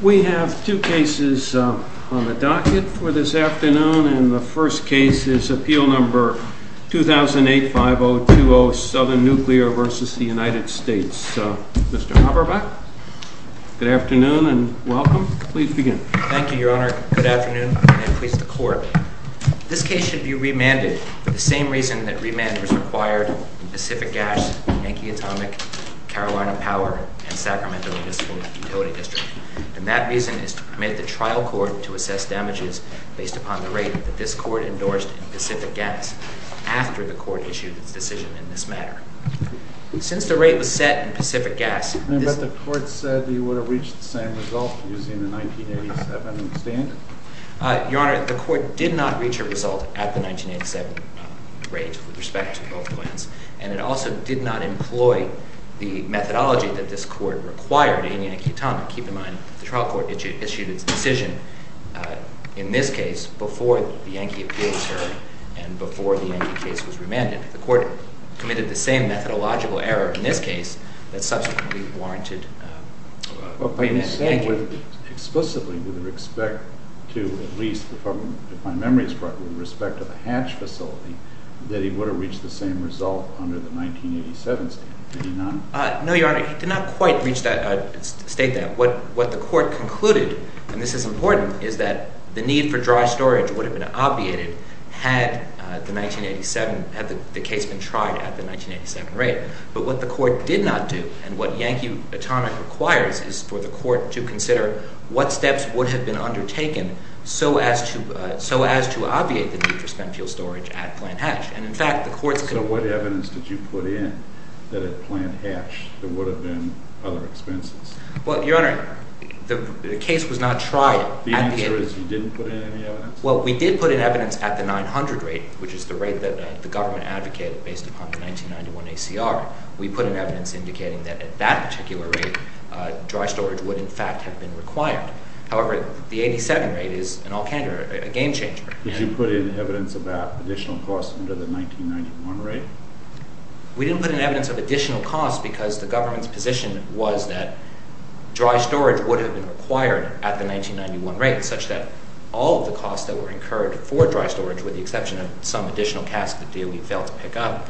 We have two cases on the docket for this afternoon, and the first case is Appeal No. 2008-5020 SOUTHERN NUCLEAR v. United States. Mr. Haberbach, good afternoon and welcome. Please begin. Thank you, Your Honor. Good afternoon, and please, the Court. This case should be remanded for the same reason that remand was required in Pacific Gas, Yankee Atomic, Carolina Power, and Sacramento Municipal Utility District. And that reason is to permit the trial court to assess damages based upon the rate that this court endorsed in Pacific Gas after the court issued its decision in this matter. Since the rate was set in Pacific Gas... But the court said you would have reached the same result using the 1987 standard? Your Honor, the court did not reach a result at the 1987 rate with respect to both plans, and it also did not employ the methodology that this court required in Yankee Atomic. Keep in mind, the trial court issued its decision in this case before the Yankee Appeal served and before the Yankee case was remanded. The court committed the same methodological error explicitly with respect to, at least if my memory is correct, with respect to the hatch facility, that he would have reached the same result under the 1987 standard, did he not? No, Your Honor, he did not quite reach that, state that. What the court concluded, and this is important, is that the need for dry storage would have been obviated had the 1987, had the case been tried at the 1987 rate. But what the court did not do and what Yankee Atomic requires is for the court to consider what steps would have been undertaken so as to obviate the need for spent fuel storage at Plant Hatch. And in fact, the court's... So what evidence did you put in that at Plant Hatch there would have been other expenses? Well, Your Honor, the case was not tried at the... The answer is you didn't put in any evidence? Well, we did put in evidence at the 900 rate, which is the rate that the government advocated based upon the 1991 ACR. We put in evidence indicating that at that particular rate, dry storage would in fact have been required. However, the 87 rate is a game changer. Did you put in evidence about additional costs under the 1991 rate? We didn't put in evidence of additional costs because the government's position was that dry storage would have been required at the 1991 rate, such that all of the costs that were incurred for dry storage, with the exception of some additional costs that DOE failed to pick up,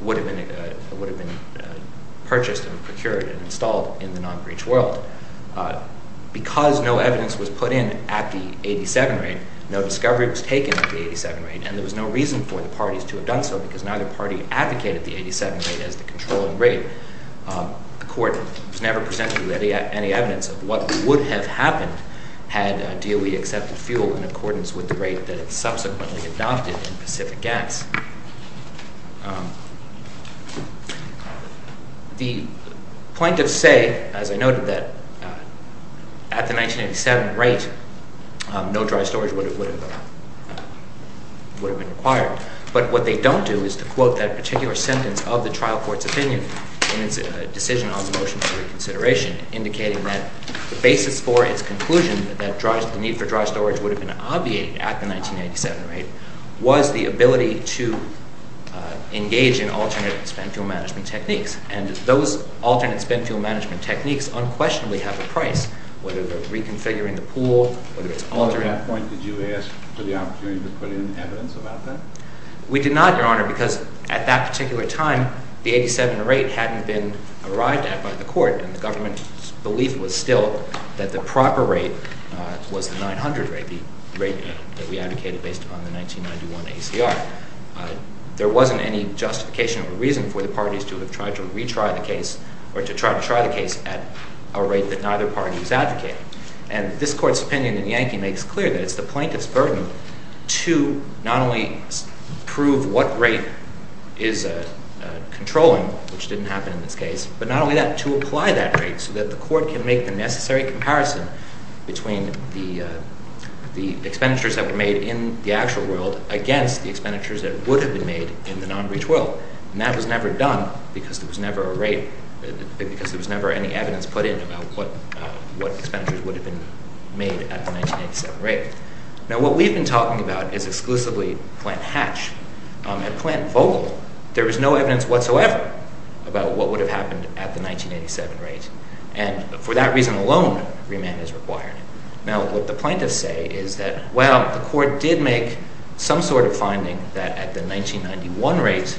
would have been purchased and procured and installed in the non-breech world. Because no evidence was put in at the 87 rate, no discovery was taken at the 87 rate, and there was no reason for the parties to have done so because neither party advocated the 87 rate as the controlling rate. The court was never presented with any evidence of what would have happened had DOE accepted fuel in accordance with the rate that it subsequently adopted in Pacific Gas. The plaintiffs say, as I noted, that at the 1987 rate, no dry storage would have been required. But what they don't do is to quote that particular sentence of the trial court's opinion in its decision on the motion for reconsideration, indicating that the basis for its conclusion that the need for dry storage would have been obviated at the 1987 rate was the ability to engage in alternate spent fuel management techniques. And those alternate spent fuel management techniques unquestionably have a price, whether they're reconfiguring the pool, whether it's altering... At that point, did you ask for the opportunity to put in evidence about that? We did not, Your Honor, because at that particular time, the 87 rate hadn't been arrived at by the court, and the government's belief was still that the proper rate was the 900 rate, the rate that we advocated based upon the 1991 ACR. There wasn't any justification or reason for the parties to have tried to retry the case or to try to try the case at a rate that neither party was advocating. And this court's opinion in Yankee makes clear that it's the plaintiff's burden to not only prove what rate is controlling, which didn't happen in this case, but not only that, to apply that rate so that the court can make the necessary comparison between the expenditures that were made in the actual world against the expenditures that would have been made in the non-breach world. And that was never done because there was never any evidence put in about what expenditures would have been made at the 1987 rate. Now, what we've been talking about is exclusively Plant Hatch. At Plant Vogel, there was no evidence whatsoever about what would have happened at the 1987 rate. And for that reason alone, remand is required. Now, what the plaintiffs say is that, well, the court did make some sort of finding that at the 1991 rate,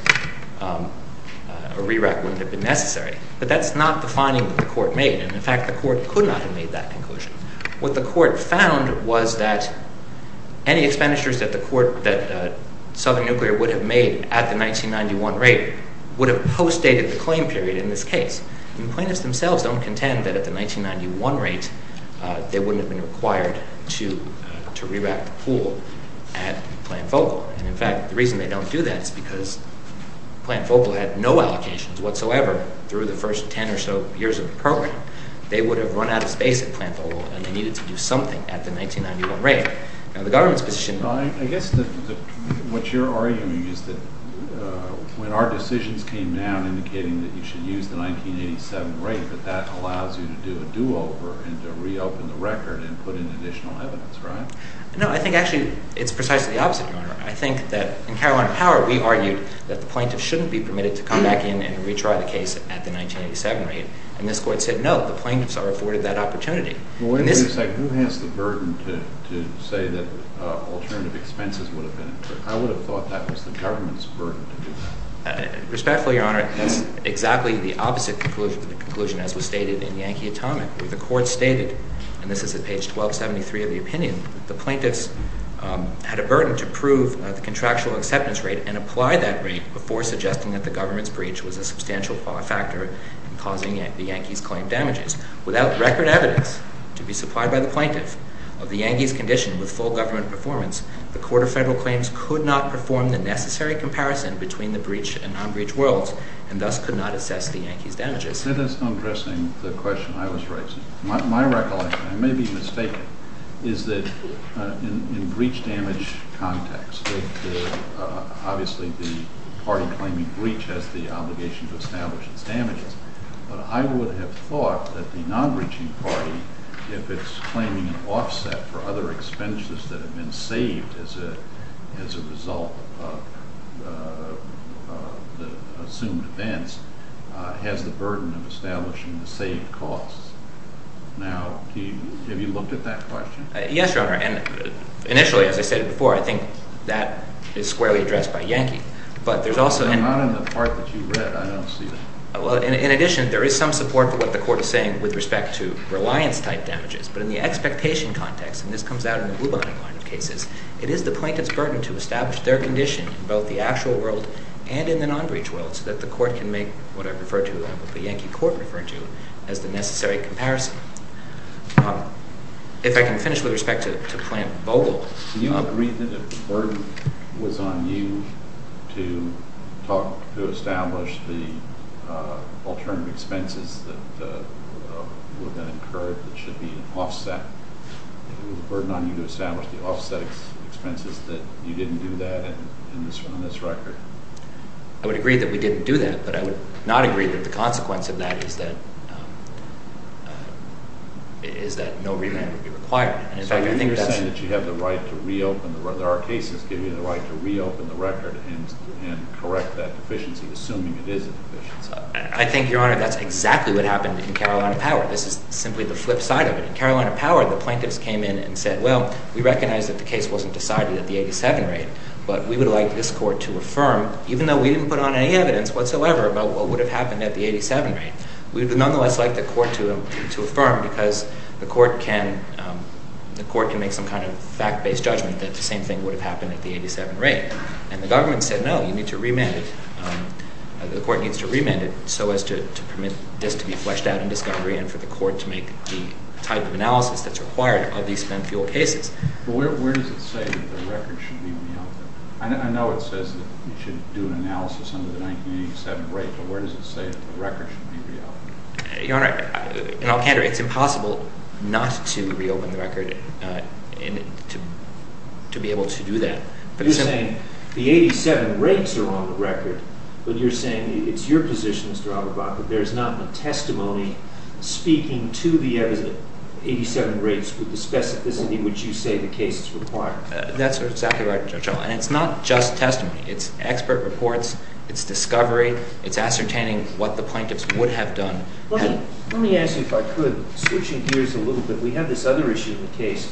a re-rack wouldn't have been necessary. But that's not the finding that the court made. And in fact, the court could not have made that conclusion. What the court found was that any expenditures that the court, that Southern Nuclear, would have made at the 1991 rate would have postdated the claim period in this case. And the plaintiffs themselves don't contend that at the 1991 rate, they wouldn't have been required to re-rack the pool at Plant Vogel. And in fact, the reason they don't do that is because Plant Vogel had no allocations whatsoever through the first 10 or so years of the program. They would have run out of space at Plant Vogel, and they needed to do something at the 1991 rate. Now, the government's position— I guess what you're arguing is that when our decisions came down indicating that you should use the 1987 rate, that that allows you to do a do-over and to reopen the record and put in additional evidence, right? No, I think actually it's precisely the opposite, Your Honor. I think that in Carolina Power, we argued that the plaintiff shouldn't be permitted to come back in and retry the case at the 1987 rate. And this court said, no, the plaintiffs are afforded that opportunity. Well, wait a minute a second. Who has the burden to say that alternative expenses would have been included? I would have thought that was the government's burden to do that. Respectfully, Your Honor, that's exactly the opposite conclusion as was stated in Yankee Atomic, where the court stated—and this is at page 1273 of the opinion— the plaintiffs had a burden to prove the contractual acceptance rate and apply that rate before suggesting that the government's breach was a substantial factor in causing the Yankees' claim damages. Without record evidence to be supplied by the plaintiff of the Yankees' condition with full government performance, the Court of Federal Claims could not perform the necessary comparison between the breach and non-breach worlds and thus could not assess the Yankees' damages. That is undressing the question I was raising. My recollection—I may be mistaken—is that in breach damage context, obviously the party claiming breach has the obligation to establish its damages, but I would have thought that the non-breaching party, if it's claiming an offset for other expenses that have been saved as a result of the assumed events, has the burden of establishing the saved costs. Now, have you looked at that question? Yes, Your Honor. And initially, as I said before, I think that is squarely addressed by Yankee. But there's also— Not in the part that you read. I don't see that. Well, in addition, there is some support for what the Court is saying with respect to reliance-type damages. But in the expectation context—and this comes out in the Blue Line cases— it is the plaintiff's burden to establish their condition in both the actual world and in the non-breach world so that the Court can make what I refer to, what the Yankee Court referred to, as the necessary comparison. If I can finish with respect to Plante-Vogel— Do you agree that if the burden was on you to talk—to establish the alternative expenses that would have been incurred that should be offset, if it was a burden on you to establish the offset expenses, that you didn't do that on this record? I would agree that we didn't do that. But I would not agree that the consequence of that is that no remand would be required. So you're saying that you have the right to reopen— that our cases give you the right to reopen the record and correct that deficiency, assuming it is a deficiency. I think, Your Honor, that's exactly what happened in Carolina Power. This is simply the flip side of it. In Carolina Power, the plaintiffs came in and said, well, we recognize that the case wasn't decided at the 87 rate, but we would like this Court to affirm, even though we didn't put on any evidence whatsoever about what would have happened at the 87 rate, we would nonetheless like the Court to affirm because the Court can make some kind of fact-based judgment that the same thing would have happened at the 87 rate. And the government said, no, you need to remand it. The Court needs to remand it so as to permit this to be fleshed out in discovery and for the Court to make the type of analysis that's required of these spent fuel cases. But where does it say that the record should be reopened? I know it says that it should do an analysis under the 1987 rate, but where does it say that the record should be reopened? Your Honor, in all candor, it's impossible not to reopen the record and to be able to do that. You're saying the 87 rates are on the record, but you're saying it's your position, Mr. Auerbach, that there is not a testimony speaking to the 87 rates with the specificity in which you say the case is required. That's exactly right, Judge Auerbach. And it's not just testimony. It's expert reports. It's discovery. It's ascertaining what the plaintiffs would have done. Let me ask you, if I could, switching gears a little bit, we have this other issue in the case,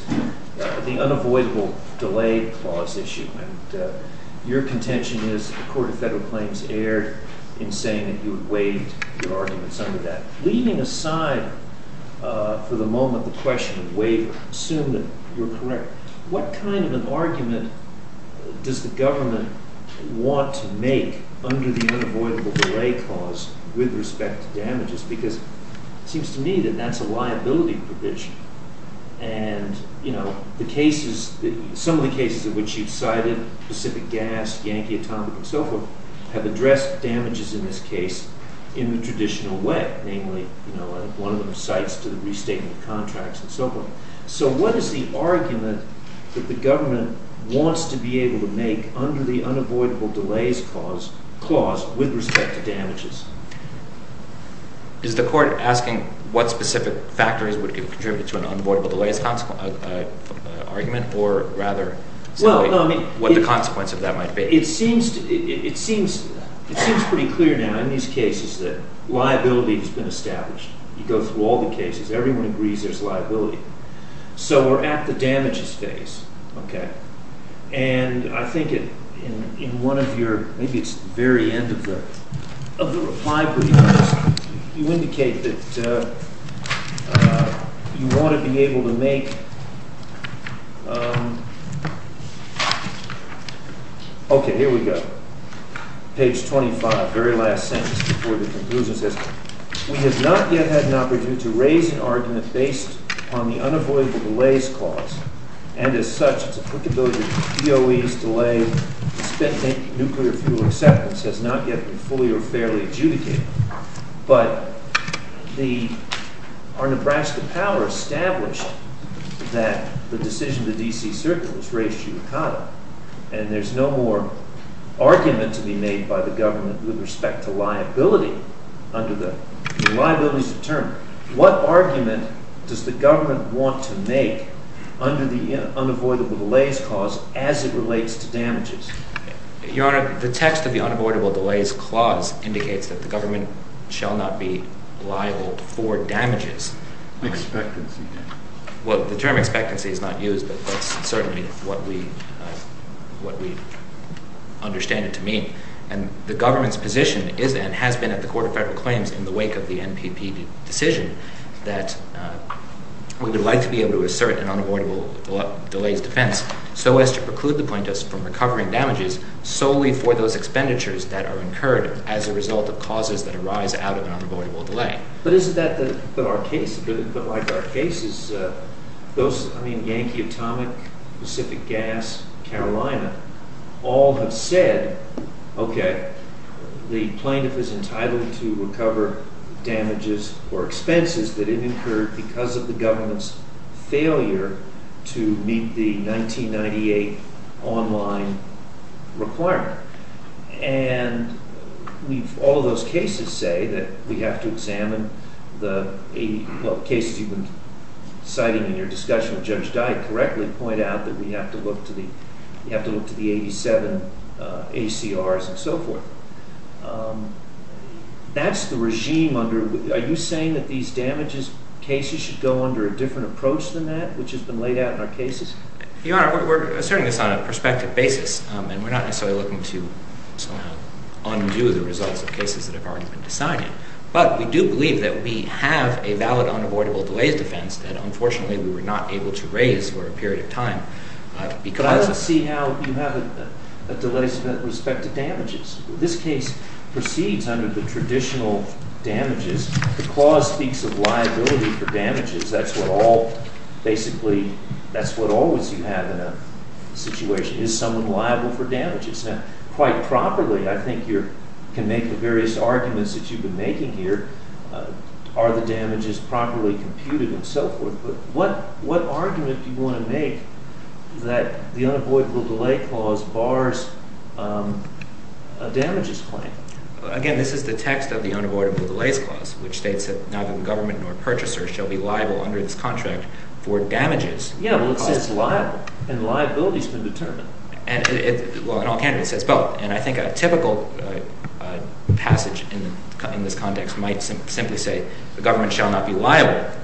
the unavoidable delay clause issue. Your contention is the Court of Federal Claims erred in saying that you had waived your arguments under that. Leaving aside, for the moment, the question of waiver, assume that you're correct, what kind of an argument does the government want to make under the unavoidable delay clause with respect to damages? Because it seems to me that that's a liability provision. And, you know, the cases, some of the cases in which you've cited, Pacific Gas, Yankee Atomic, and so forth, have addressed damages in this case in the traditional way, namely, you know, one of them cites to the restating of contracts and so forth. So what is the argument that the government wants to be able to make under the unavoidable delays clause with respect to damages? Is the court asking what specific factors would contribute to an unavoidable delays argument? Or rather, what the consequence of that might be? It seems pretty clear now in these cases that liability has been established. You go through all the cases, everyone agrees there's liability. So we're at the damages phase, okay? And I think in one of your, maybe it's the very end of the reply brief, you indicate that you want to be able to make, okay, here we go, page 25, very last sentence before the conclusion says, We have not yet had an opportunity to raise an argument based on the unavoidable delays clause. And as such, its applicability to DOEs, delay, and spent nuclear fuel acceptance has not yet been fully or fairly adjudicated. But our Nebraska power established that the decision of the D.C. Circuit was raised judicata. And there's no more argument to be made by the government with respect to liability under the liabilities of term. What argument does the government want to make under the unavoidable delays clause as it relates to damages? Your Honor, the text of the unavoidable delays clause indicates that the government shall not be liable for damages. Expectancy damages. Well, the term expectancy is not used, but that's certainly what we understand it to mean. And the government's position is and has been at the Court of Federal Claims in the wake of the NPP decision that we would like to be able to assert an unavoidable delays defense so as to preclude the plaintiffs from recovering damages solely for those expenditures that are incurred as a result of causes that arise out of an unavoidable delay. But isn't that our case? But like our cases, those, I mean, Yankee Atomic, Pacific Gas, Carolina, all have said, okay, the plaintiff is entitled to recover damages or expenses that incurred because of the government's failure to meet the 1998 online requirement. And all of those cases say that we have to examine the cases you've been citing in your discussion with Judge Dyke correctly point out that we have to look to the 87 ACRs and so forth. That's the regime under, are you saying that these damages cases should go under a different approach than that, which has been laid out in our cases? Your Honor, we're asserting this on a perspective basis, and we're not necessarily looking to undo the results of cases that have already been decided. But we do believe that we have a valid unavoidable delays defense that unfortunately we were not able to raise for a period of time. But I want to see how you have a delays respect to damages. This case proceeds under the traditional damages. The clause speaks of liability for damages. That's what all, basically, that's what always you have in a situation. Is someone liable for damages? Now, quite properly, I think you can make the various arguments that you've been making here. Are the damages properly computed and so forth? But what argument do you want to make that the unavoidable delay clause bars a damages claim? Again, this is the text of the unavoidable delays clause, which states that neither the government nor purchaser shall be liable under this contract for damages. Yeah, well, it says liable, and liability has been determined. Well, in all candidates, it says both. And I think a typical passage in this context might simply say the government shall not be liable.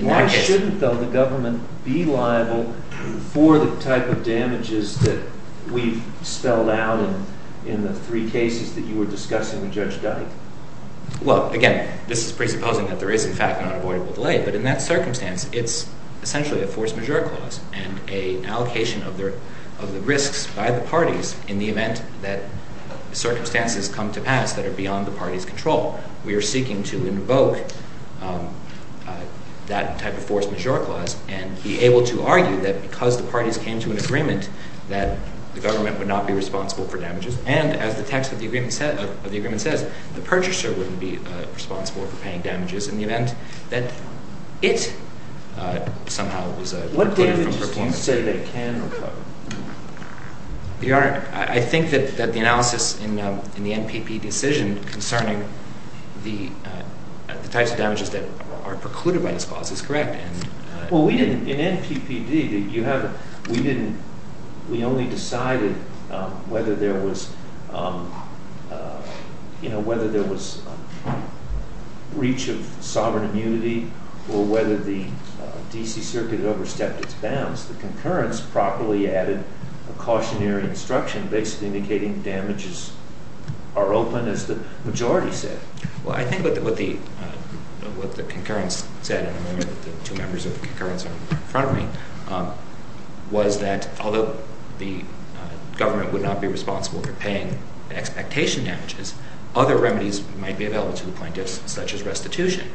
Why shouldn't, though, the government be liable for the type of damages that we've spelled out in the three cases that you were discussing with Judge Dyke? Well, again, this is presupposing that there is, in fact, an unavoidable delay. But in that circumstance, it's essentially a force majeure clause and an allocation of the risks by the parties in the event that circumstances come to pass that are beyond the party's control. We are seeking to invoke that type of force majeure clause and be able to argue that because the parties came to an agreement that the government would not be responsible for damages, and, as the text of the agreement says, the purchaser wouldn't be responsible for paying damages in the event that it somehow was recluded from performance. What data do you think say that it can or cannot? Your Honor, I think that the analysis in the NPP decision concerning the types of damages that are precluded by this clause is correct. Well, in NPPD, we only decided whether there was reach of sovereign immunity or whether the D.C. Circuit had overstepped its bounds. The concurrence properly added a cautionary instruction basically indicating damages are open, as the majority said. Well, I think what the concurrence said in the moment that the two members of the concurrence are in front of me was that, although the government would not be responsible for paying expectation damages, other remedies might be available to the plaintiffs, such as restitution.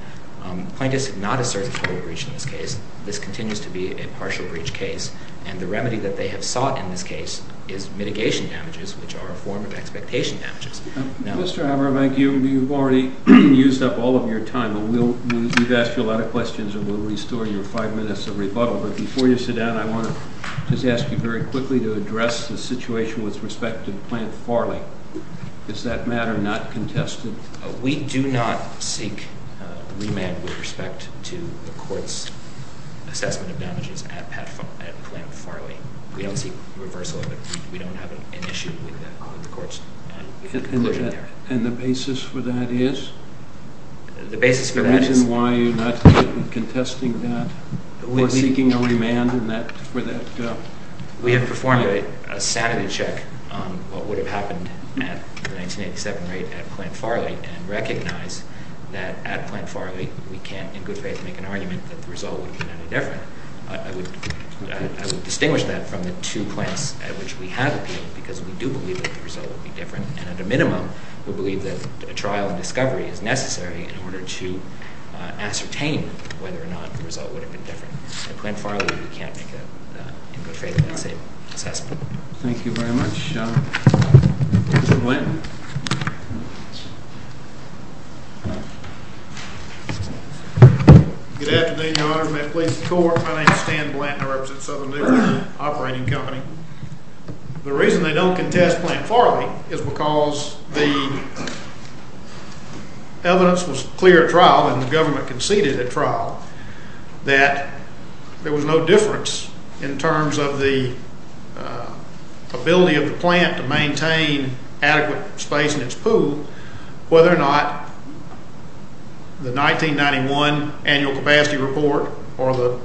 Plaintiffs have not asserted total breach in this case. This continues to be a partial breach case. And the remedy that they have sought in this case is mitigation damages, which are a form of expectation damages. Mr. Abramank, you've already used up all of your time, and we've asked you a lot of questions, and we'll restore your five minutes of rebuttal. But before you sit down, I want to just ask you very quickly to address the situation with respect to the plant Farley. Is that matter not contested? We do not seek remand with respect to the court's assessment of damages at plant Farley. We don't seek reversal of it. We don't have an issue with the court's conclusion there. And the basis for that is? The basis for that is- Can you mention why you're not contesting that or seeking a remand for that? We have performed a sanity check on what would have happened at the 1987 raid at plant Farley and recognize that at plant Farley, we can't in good faith make an argument that the result would have been any different. I would distinguish that from the two plants at which we have appealed, because we do believe that the result would be different. And at a minimum, we believe that a trial and discovery is necessary in order to ascertain whether or not the result would have been different. At plant Farley, we can't make an in good faith assessment. Thank you very much. Mr. Blanton. Good afternoon, Your Honor. May it please the court. My name is Stan Blanton. I represent Southern Dixon Operating Company. The reason they don't contest plant Farley is because the evidence was clear at trial, and the government conceded at trial, that there was no difference in terms of the ability of the plant to maintain adequate space in its pool, whether or not the 1991 annual capacity report or the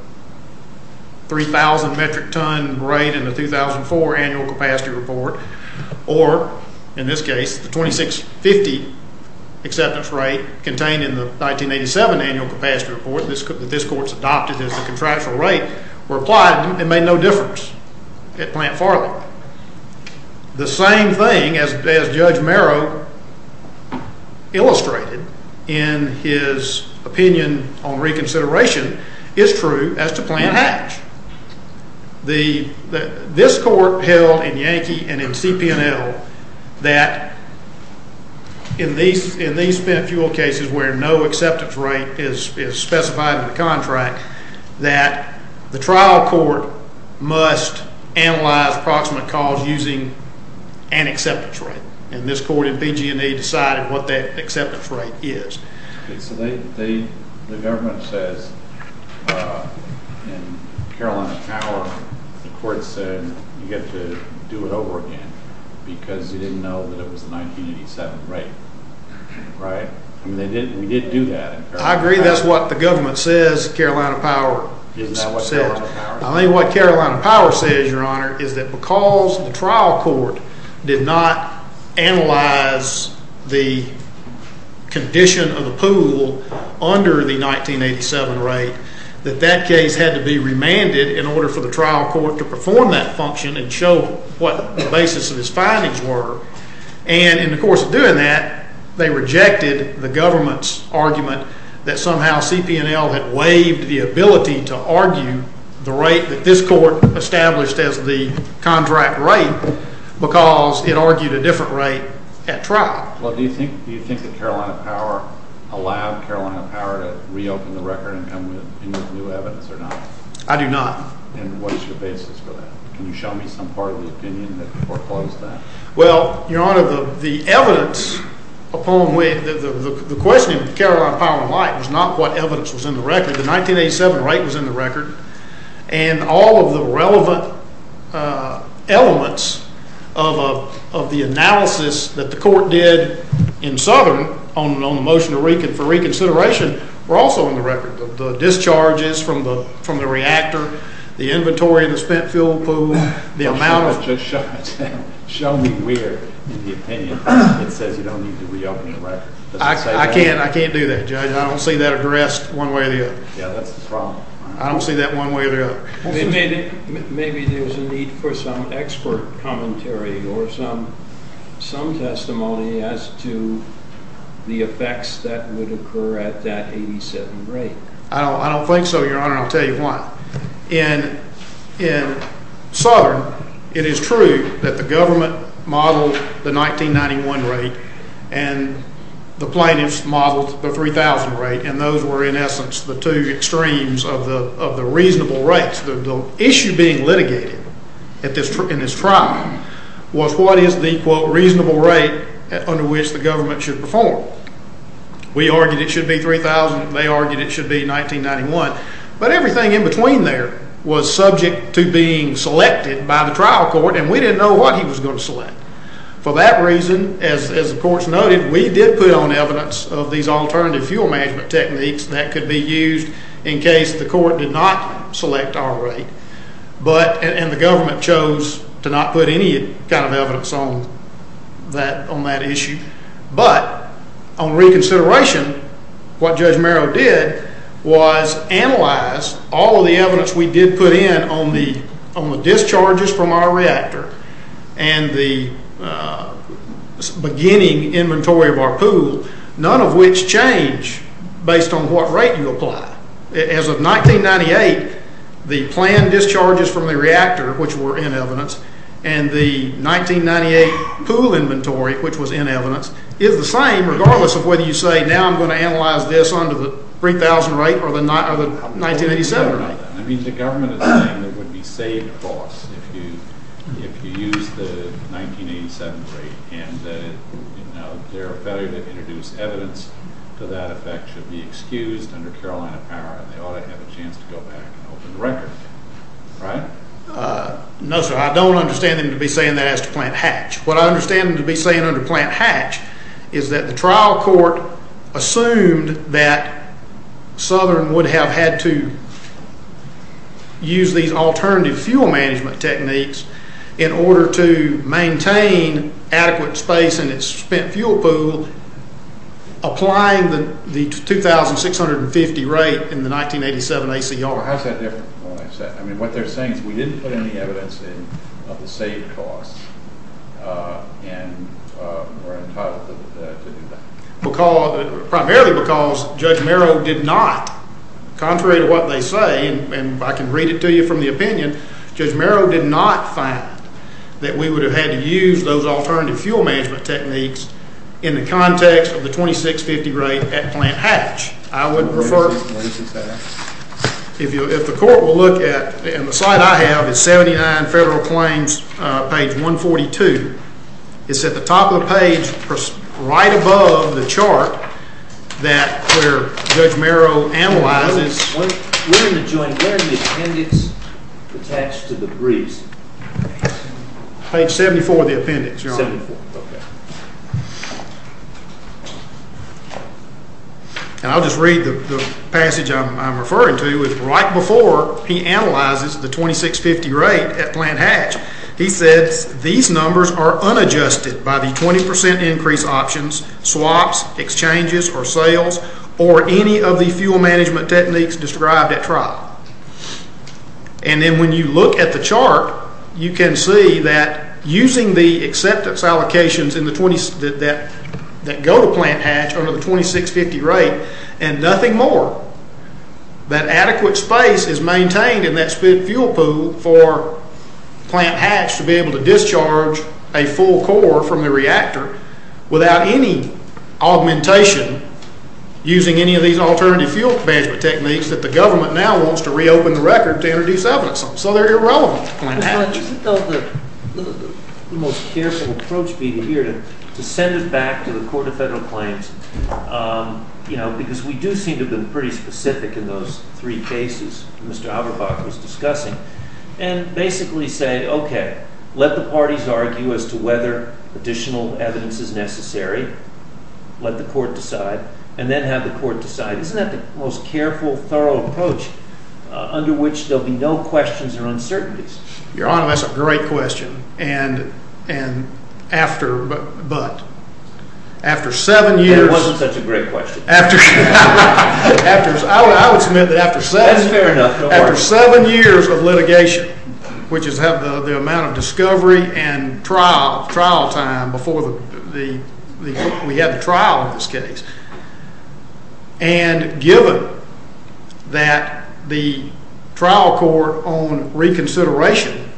3,000 metric ton raid in the 2004 annual capacity report, or, in this case, the 2,650 acceptance rate contained in the 1987 annual capacity report that this court has adopted as the contractual rate, were applied and made no difference at plant Farley. The same thing as Judge Marrow illustrated in his opinion on reconsideration is true as to plant Hatch. This court held in Yankee and in CPNL that in these spent fuel cases where no acceptance rate is specified in the contract, that the trial court must analyze approximate cause using an acceptance rate. And this court in BG&E decided what that acceptance rate is. So the government says in Carolina Power the court said you have to do it over again because you didn't know that it was the 1987 rate, right? I mean, we didn't do that in Carolina Power. I agree that's what the government says, Carolina Power said. Isn't that what Carolina Power said? is that because the trial court did not analyze the condition of the pool under the 1987 rate, that that case had to be remanded in order for the trial court to perform that function and show what the basis of his findings were. And in the course of doing that, they rejected the government's argument that somehow CPNL had waived the ability to argue the rate that this court established as the contract rate because it argued a different rate at trial. Well, do you think that Carolina Power allowed Carolina Power to reopen the record and come with new evidence or not? I do not. And what is your basis for that? Can you show me some part of the opinion that foreclosed that? Well, Your Honor, the evidence upon which, the question of Carolina Power and Light was not what evidence was in the record. The 1987 rate was in the record. And all of the relevant elements of the analysis that the court did in Southern on the motion for reconsideration were also in the record. The discharges from the reactor, the inventory of the spent fuel pool, the amount of- Show me where in the opinion it says you don't need to reopen the record. I can't do that, Judge. I don't see that addressed one way or the other. Yeah, that's the problem. I don't see that one way or the other. Maybe there's a need for some expert commentary or some testimony as to the effects that would occur at that 87 rate. I don't think so, Your Honor. I'll tell you why. In Southern, it is true that the government modeled the 1991 rate and the plaintiffs modeled the 3000 rate. And those were, in essence, the two extremes of the reasonable rates. The issue being litigated in this trial was what is the, quote, reasonable rate under which the government should perform. We argued it should be 3000. They argued it should be 1991. But everything in between there was subject to being selected by the trial court, and we didn't know what he was going to select. For that reason, as the courts noted, we did put on evidence of these alternative fuel management techniques that could be used in case the court did not select our rate. And the government chose to not put any kind of evidence on that issue. But on reconsideration, what Judge Merrow did was analyze all of the evidence we did put in on the discharges from our reactor and the beginning inventory of our pool, none of which change based on what rate you apply. As of 1998, the planned discharges from the reactor, which were in evidence, and the 1998 pool inventory, which was in evidence, is the same regardless of whether you say now I'm going to analyze this under the 3000 rate or the 1987 rate. I mean, the government is saying it would be saved costs if you use the 1987 rate, and their failure to introduce evidence to that effect should be excused under Carolina power, and they ought to have a chance to go back and open the record, right? No, sir. I don't understand them to be saying that as to plant hatch. What I understand them to be saying under plant hatch is that the trial court assumed that Southern would have had to use these alternative fuel management techniques in order to maintain adequate space in its spent fuel pool, applying the 2650 rate in the 1987 ACR. Well, how's that different from what I've said? I mean, what they're saying is we didn't put any evidence in of the saved costs, and we're entitled to do that. Primarily because Judge Merrow did not, contrary to what they say, and I can read it to you from the opinion, Judge Merrow did not find that we would have had to use those alternative fuel management techniques in the context of the 2650 rate at plant hatch. I would prefer, if the court will look at, and the slide I have is 79 Federal Claims, page 142. It's at the top of the page, right above the chart that where Judge Merrow analyzes. Where's the appendix attached to the briefs? Page 74 of the appendix, Your Honor. 74, okay. And I'll just read the passage I'm referring to, right before he analyzes the 2650 rate at plant hatch. He says, these numbers are unadjusted by the 20% increase options, swaps, exchanges, or sales, or any of the fuel management techniques described at trial. And then when you look at the chart, you can see that using the acceptance allocations that go to plant hatch under the 2650 rate, and nothing more. That adequate space is maintained in that split fuel pool for plant hatch to be able to discharge a full core from the reactor without any augmentation using any of these alternative fuel management techniques that the government now wants to reopen the record to introduce evidence on. So they're irrelevant to plant hatch. Your Honor, isn't that the most careful approach here to send it back to the Court of Federal Claims? You know, because we do seem to have been pretty specific in those three cases Mr. Haberbach was discussing. And basically say, okay, let the parties argue as to whether additional evidence is necessary. Let the court decide, and then have the court decide. Isn't that the most careful, thorough approach under which there'll be no questions or uncertainties? Your Honor, that's a great question. And after, but. After seven years. That wasn't such a great question. After, I would submit that after seven years. That's fair enough. After seven years of litigation, which is the amount of discovery and trial time before we had the trial in this case. And given that the trial court on reconsideration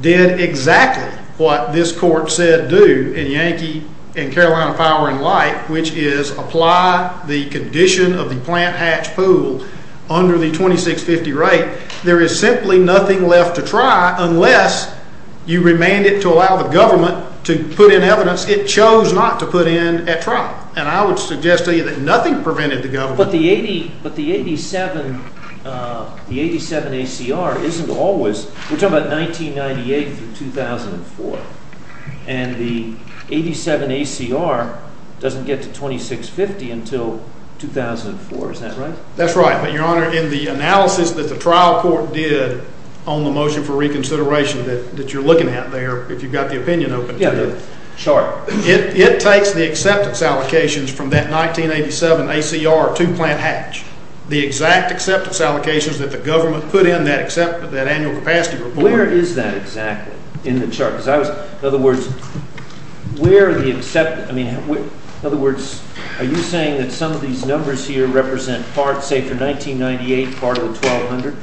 did exactly what this court said do in Yankee and Carolina Power and Light. Which is apply the condition of the plant hatch pool under the 2650 rate. There is simply nothing left to try unless you remand it to allow the government to put in evidence it chose not to put in at trial. And I would suggest to you that nothing prevented the government. But the 87 ACR isn't always. We're talking about 1998 through 2004. And the 87 ACR doesn't get to 2650 until 2004. Is that right? That's right. But Your Honor, in the analysis that the trial court did on the motion for reconsideration that you're looking at there. If you've got the opinion open to it. Yeah, sure. It takes the acceptance allocations from that 1987 ACR to plant hatch. The exact acceptance allocations that the government put in that annual capacity report. Where is that exactly in the chart? Because I was, in other words, where are the acceptance, I mean, in other words, are you saying that some of these numbers here represent parts, say for 1998, part of the 1200?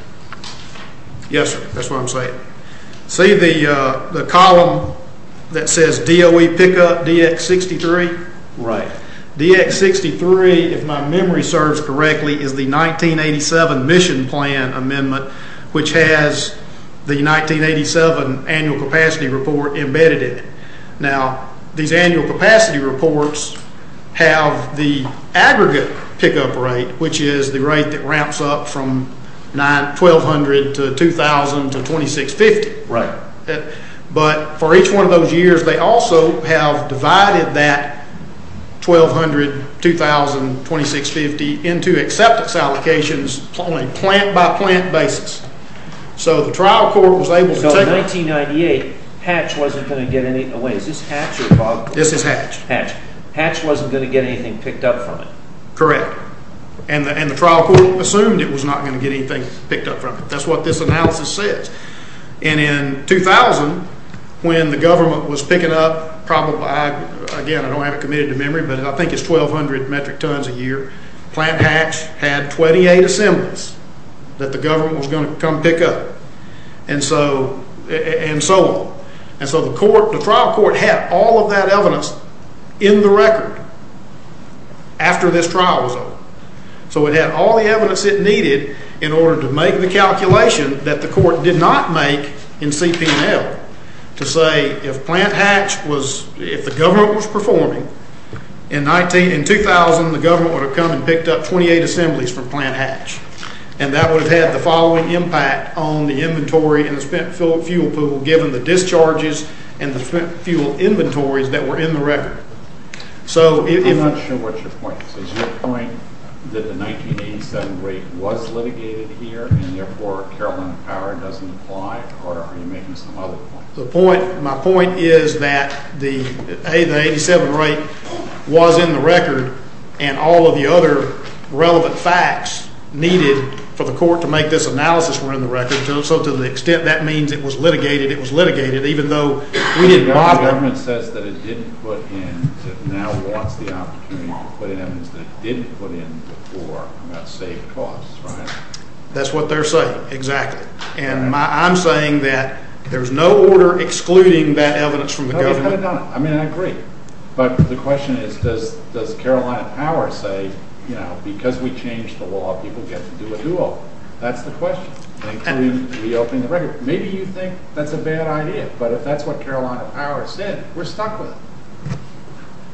Yes, sir. That's what I'm saying. See the column that says DOE pickup DX63? Right. DX63, if my memory serves correctly, is the 1987 mission plan amendment which has the 1987 annual capacity report embedded in it. Now, these annual capacity reports have the aggregate pickup rate, which is the rate that ramps up from 1200 to 2000 to 2650. Right. But for each one of those years, they also have divided that 1200, 2000, 2650 into acceptance allocations on a plant by plant basis. So the trial court was able to take it. But in 1998, hatch wasn't going to get anything away. Is this hatch? This is hatch. Hatch wasn't going to get anything picked up from it. Correct. And the trial court assumed it was not going to get anything picked up from it. That's what this analysis says. And in 2000, when the government was picking up probably, again, I don't have it committed to memory, but I think it's 1200 metric tons a year, plant hatch had 28 assemblies that the government was going to come pick up. And so on. And so the trial court had all of that evidence in the record after this trial was over. So it had all the evidence it needed in order to make the calculation that the court did not make in CPNL to say if the government was performing, in 2000 the government would have come and picked up 28 assemblies from plant hatch. And that would have had the following impact on the inventory and the spent fuel pool given the discharges and the spent fuel inventories that were in the record. I'm not sure what your point is. Is your point that the 1987 rate was litigated here and therefore caroline power doesn't apply or are you making some other point? My point is that the 87 rate was in the record and all of the other relevant facts needed for the court to make this analysis were in the record. So to the extent that means it was litigated, it was litigated, even though we didn't bother. The government says that it didn't put in and now wants the opportunity to put in evidence that it didn't put in before about safe costs, right? That's what they're saying, exactly. And I'm saying that there's no order excluding that evidence from the government. I mean, I agree. But the question is, does caroline power say, you know, because we changed the law, people get to do what they want? That's the question. Maybe you think that's a bad idea, but if that's what caroline power said, we're stuck with it.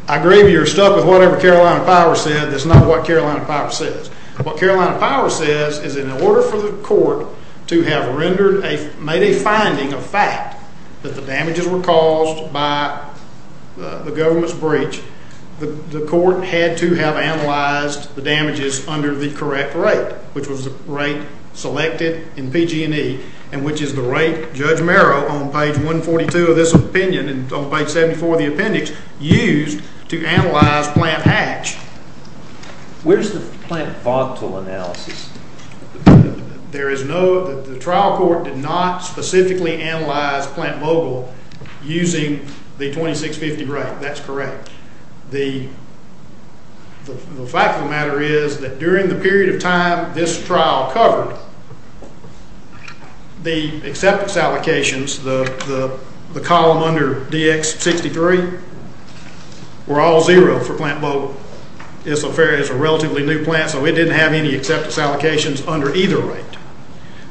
I agree that you're stuck with whatever caroline power said. That's not what caroline power says. What caroline power says is in order for the court to have rendered a finding of fact that the damages were caused by the government's breach, the court had to have analyzed the damages under the correct rate, which was the rate selected in PG&E, and which is the rate Judge Merrill on page 142 of this opinion and on page 74 of the appendix used to analyze plant hatch. Where's the plant voctel analysis? There is no, the trial court did not specifically analyze plant Vogel using the 2650 rate. That's correct. The fact of the matter is that during the period of time this trial covered, the acceptance allocations, the column under DX63, were all zero for plant Vogel. It's a relatively new plant, so it didn't have any acceptance allocations under either rate.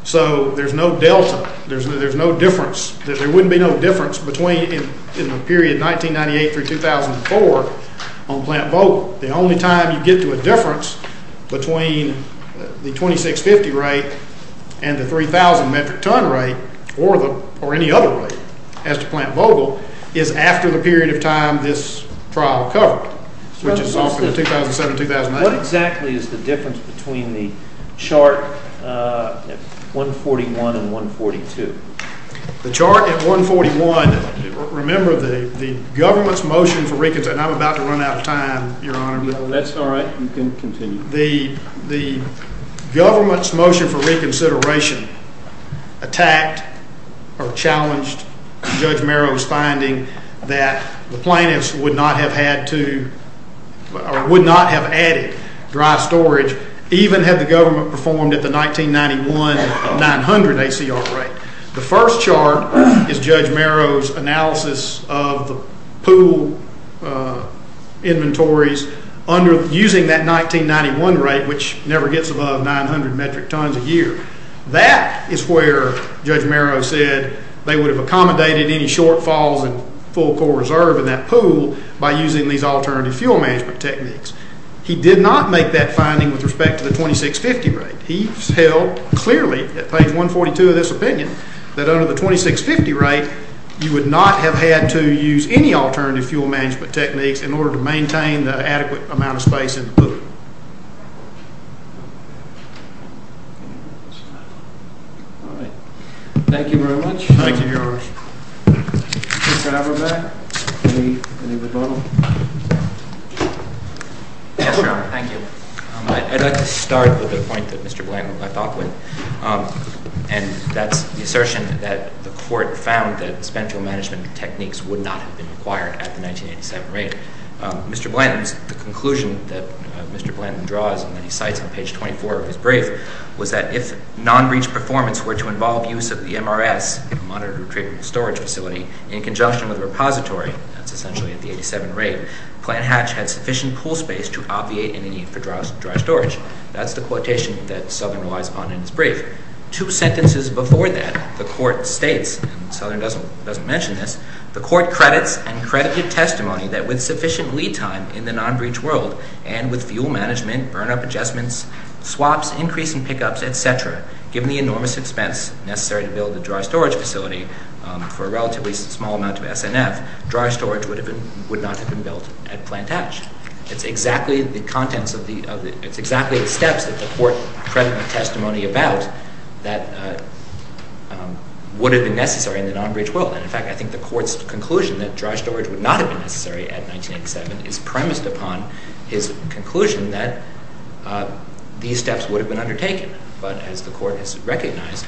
So there's no delta. There's no difference. There wouldn't be no difference between in the period 1998 through 2004 on plant Vogel. The only time you get to a difference between the 2650 rate and the 3000 metric ton rate or any other rate as to plant Vogel is after the period of time this trial covered, which is often 2007-2008. What exactly is the difference between the chart at 141 and 142? The chart at 141, remember the government's motion for reconsideration, and I'm about to run out of time, Your Honor. No, that's all right. You can continue. The government's motion for reconsideration attacked or challenged Judge Merrow's finding that the plaintiffs would not have added dry storage even had the government performed at the 1991-900 ACR rate. The first chart is Judge Merrow's analysis of the pool inventories using that 1991 rate, which never gets above 900 metric tons a year. That is where Judge Merrow said they would have accommodated any shortfalls in full core reserve in that pool by using these alternative fuel management techniques. He did not make that finding with respect to the 2650 rate. He held clearly at page 142 of this opinion that under the 2650 rate, you would not have had to use any alternative fuel management techniques in order to maintain the adequate amount of space in the pool. All right. Thank you very much. Mr. Abrobach, any rebuttal? Yes, Your Honor. Thank you. I'd like to start with a point that Mr. Blanton left off with, and that's the assertion that the court found that spent fuel management techniques would not have been required at the 1987 rate. Mr. Blanton's conclusion that Mr. Blanton draws and that he cites on page 24 of his brief was that if non-breach performance were to involve use of the MRS, Monitored Retrieval Storage Facility, in conjunction with a repository, that's essentially at the 87 rate, Plant Hatch had sufficient pool space to obviate any need for dry storage. That's the quotation that Southern relies upon in his brief. Two sentences before that, the court states, and Southern doesn't mention this, the court credits and credited testimony that with sufficient lead time in the non-breach world and with fuel management, burn-up adjustments, swaps, increase in pickups, etc., given the enormous expense necessary to build a dry storage facility for a relatively small amount of SNF, dry storage would not have been built at Plant Hatch. It's exactly the steps that the court credited testimony about that would have been necessary in the non-breach world. And in fact, I think the court's conclusion that dry storage would not have been necessary at 1987 is premised upon his conclusion that these steps would have been undertaken. But as the court has recognized,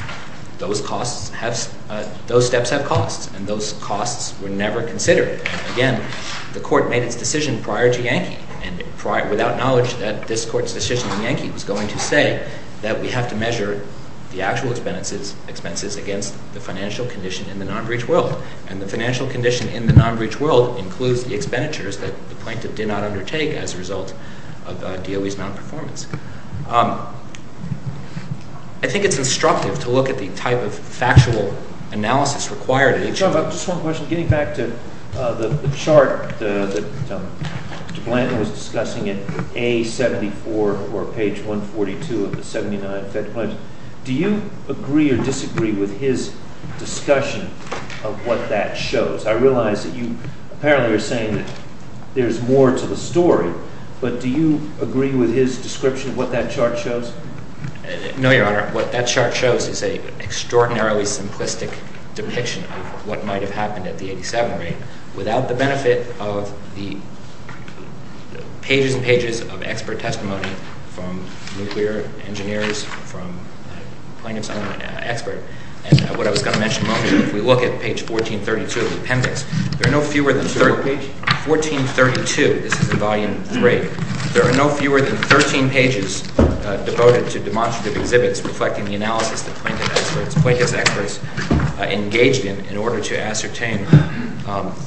those steps have costs and those costs were never considered. Again, the court made its decision prior to Yankee and without knowledge that this court's decision in Yankee was going to say that we have to measure the actual expenses against the financial condition in the non-breach world. And the financial condition in the non-breach world includes the expenditures that the plaintiff did not undertake as a result of DOE's non-performance. I think it's instructive to look at the type of factual analysis required at each— Do you agree or disagree with his discussion of what that shows? I realize that you apparently are saying that there's more to the story, but do you agree with his description of what that chart shows? No, Your Honor. What that chart shows is an extraordinarily simplistic depiction of what might have happened at the 87 rate without the benefit of the pages and pages of expert testimony from nuclear engineers, from a plaintiff's own expert. And what I was going to mention a moment ago, if we look at page 1432 of the appendix, there are no fewer than 13— 1432? 1432. This is in Volume 3. There are no fewer than 13 pages devoted to demonstrative exhibits reflecting the analysis that plaintiff's experts engaged in in order to ascertain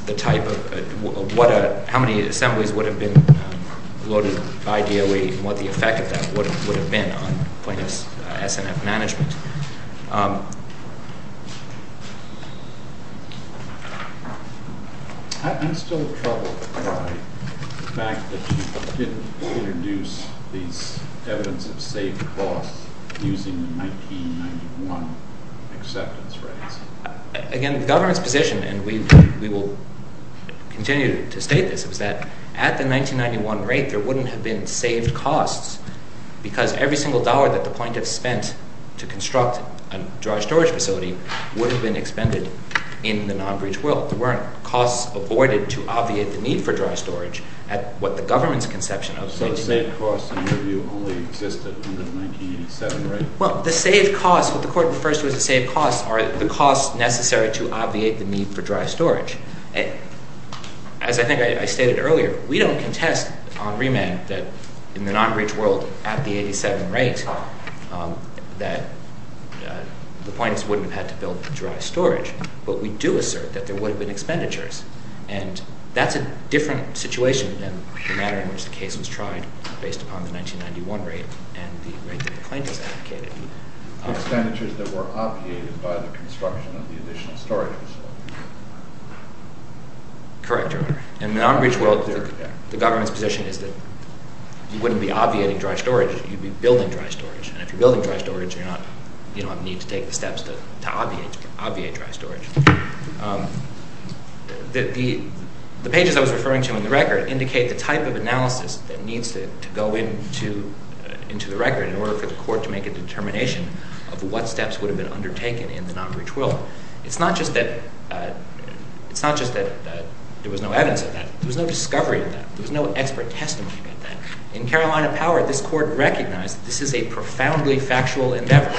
the type of—how many assemblies would have been loaded by DOE and what the effect of that would have been on plaintiff's S&F management. I'm still troubled by the fact that you didn't introduce these evidence of saved costs using the 1991 acceptance rates. Again, the government's position—and we will continue to state this—is that at the 1991 rate, there wouldn't have been saved costs because every single dollar that the plaintiff spent to construct a dry storage facility would have been expended in the non-breach will. There weren't costs avoided to obviate the need for dry storage at what the government's conception of— So the saved costs in your view only existed under the 1987 rate? Well, the saved costs—what the Court refers to as the saved costs are the costs necessary to obviate the need for dry storage. As I think I stated earlier, we don't contest on remand that in the non-breach world at the 1987 rate that the plaintiffs wouldn't have had to build dry storage, but we do assert that there would have been expenditures. And that's a different situation than the matter in which the case was tried based upon the 1991 rate and the rate that the plaintiffs advocated. Expenditures that were obviated by the construction of the additional storage facility. Correct, Your Honor. In the non-breach world, the government's position is that you wouldn't be obviating dry storage, you'd be building dry storage. And if you're building dry storage, you don't need to take the steps to obviate dry storage. The pages I was referring to in the record indicate the type of analysis that needs to go into the record in order for the Court to make a determination of what steps would have been undertaken in the non-breach will. It's not just that there was no evidence of that. There was no discovery of that. There was no expert testimony of that. In Carolina Power, this Court recognized that this is a profoundly factual endeavor.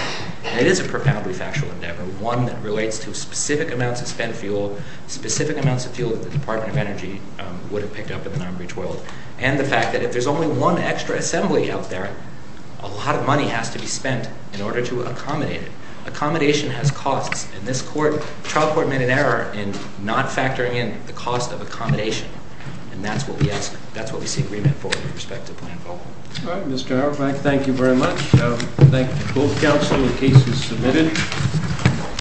And it is a profoundly factual endeavor, one that relates to specific amounts of spent fuel, specific amounts of fuel that the Department of Energy would have picked up in the non-breach world, and the fact that if there's only one extra assembly out there, a lot of money has to be spent in order to accommodate it. Accommodation has costs, and this trial court made an error in not factoring in the cost of accommodation. And that's what we see agreement for with respect to the plan. All right, Mr. Auerbach, thank you very much. I thank both counsel. The case is submitted.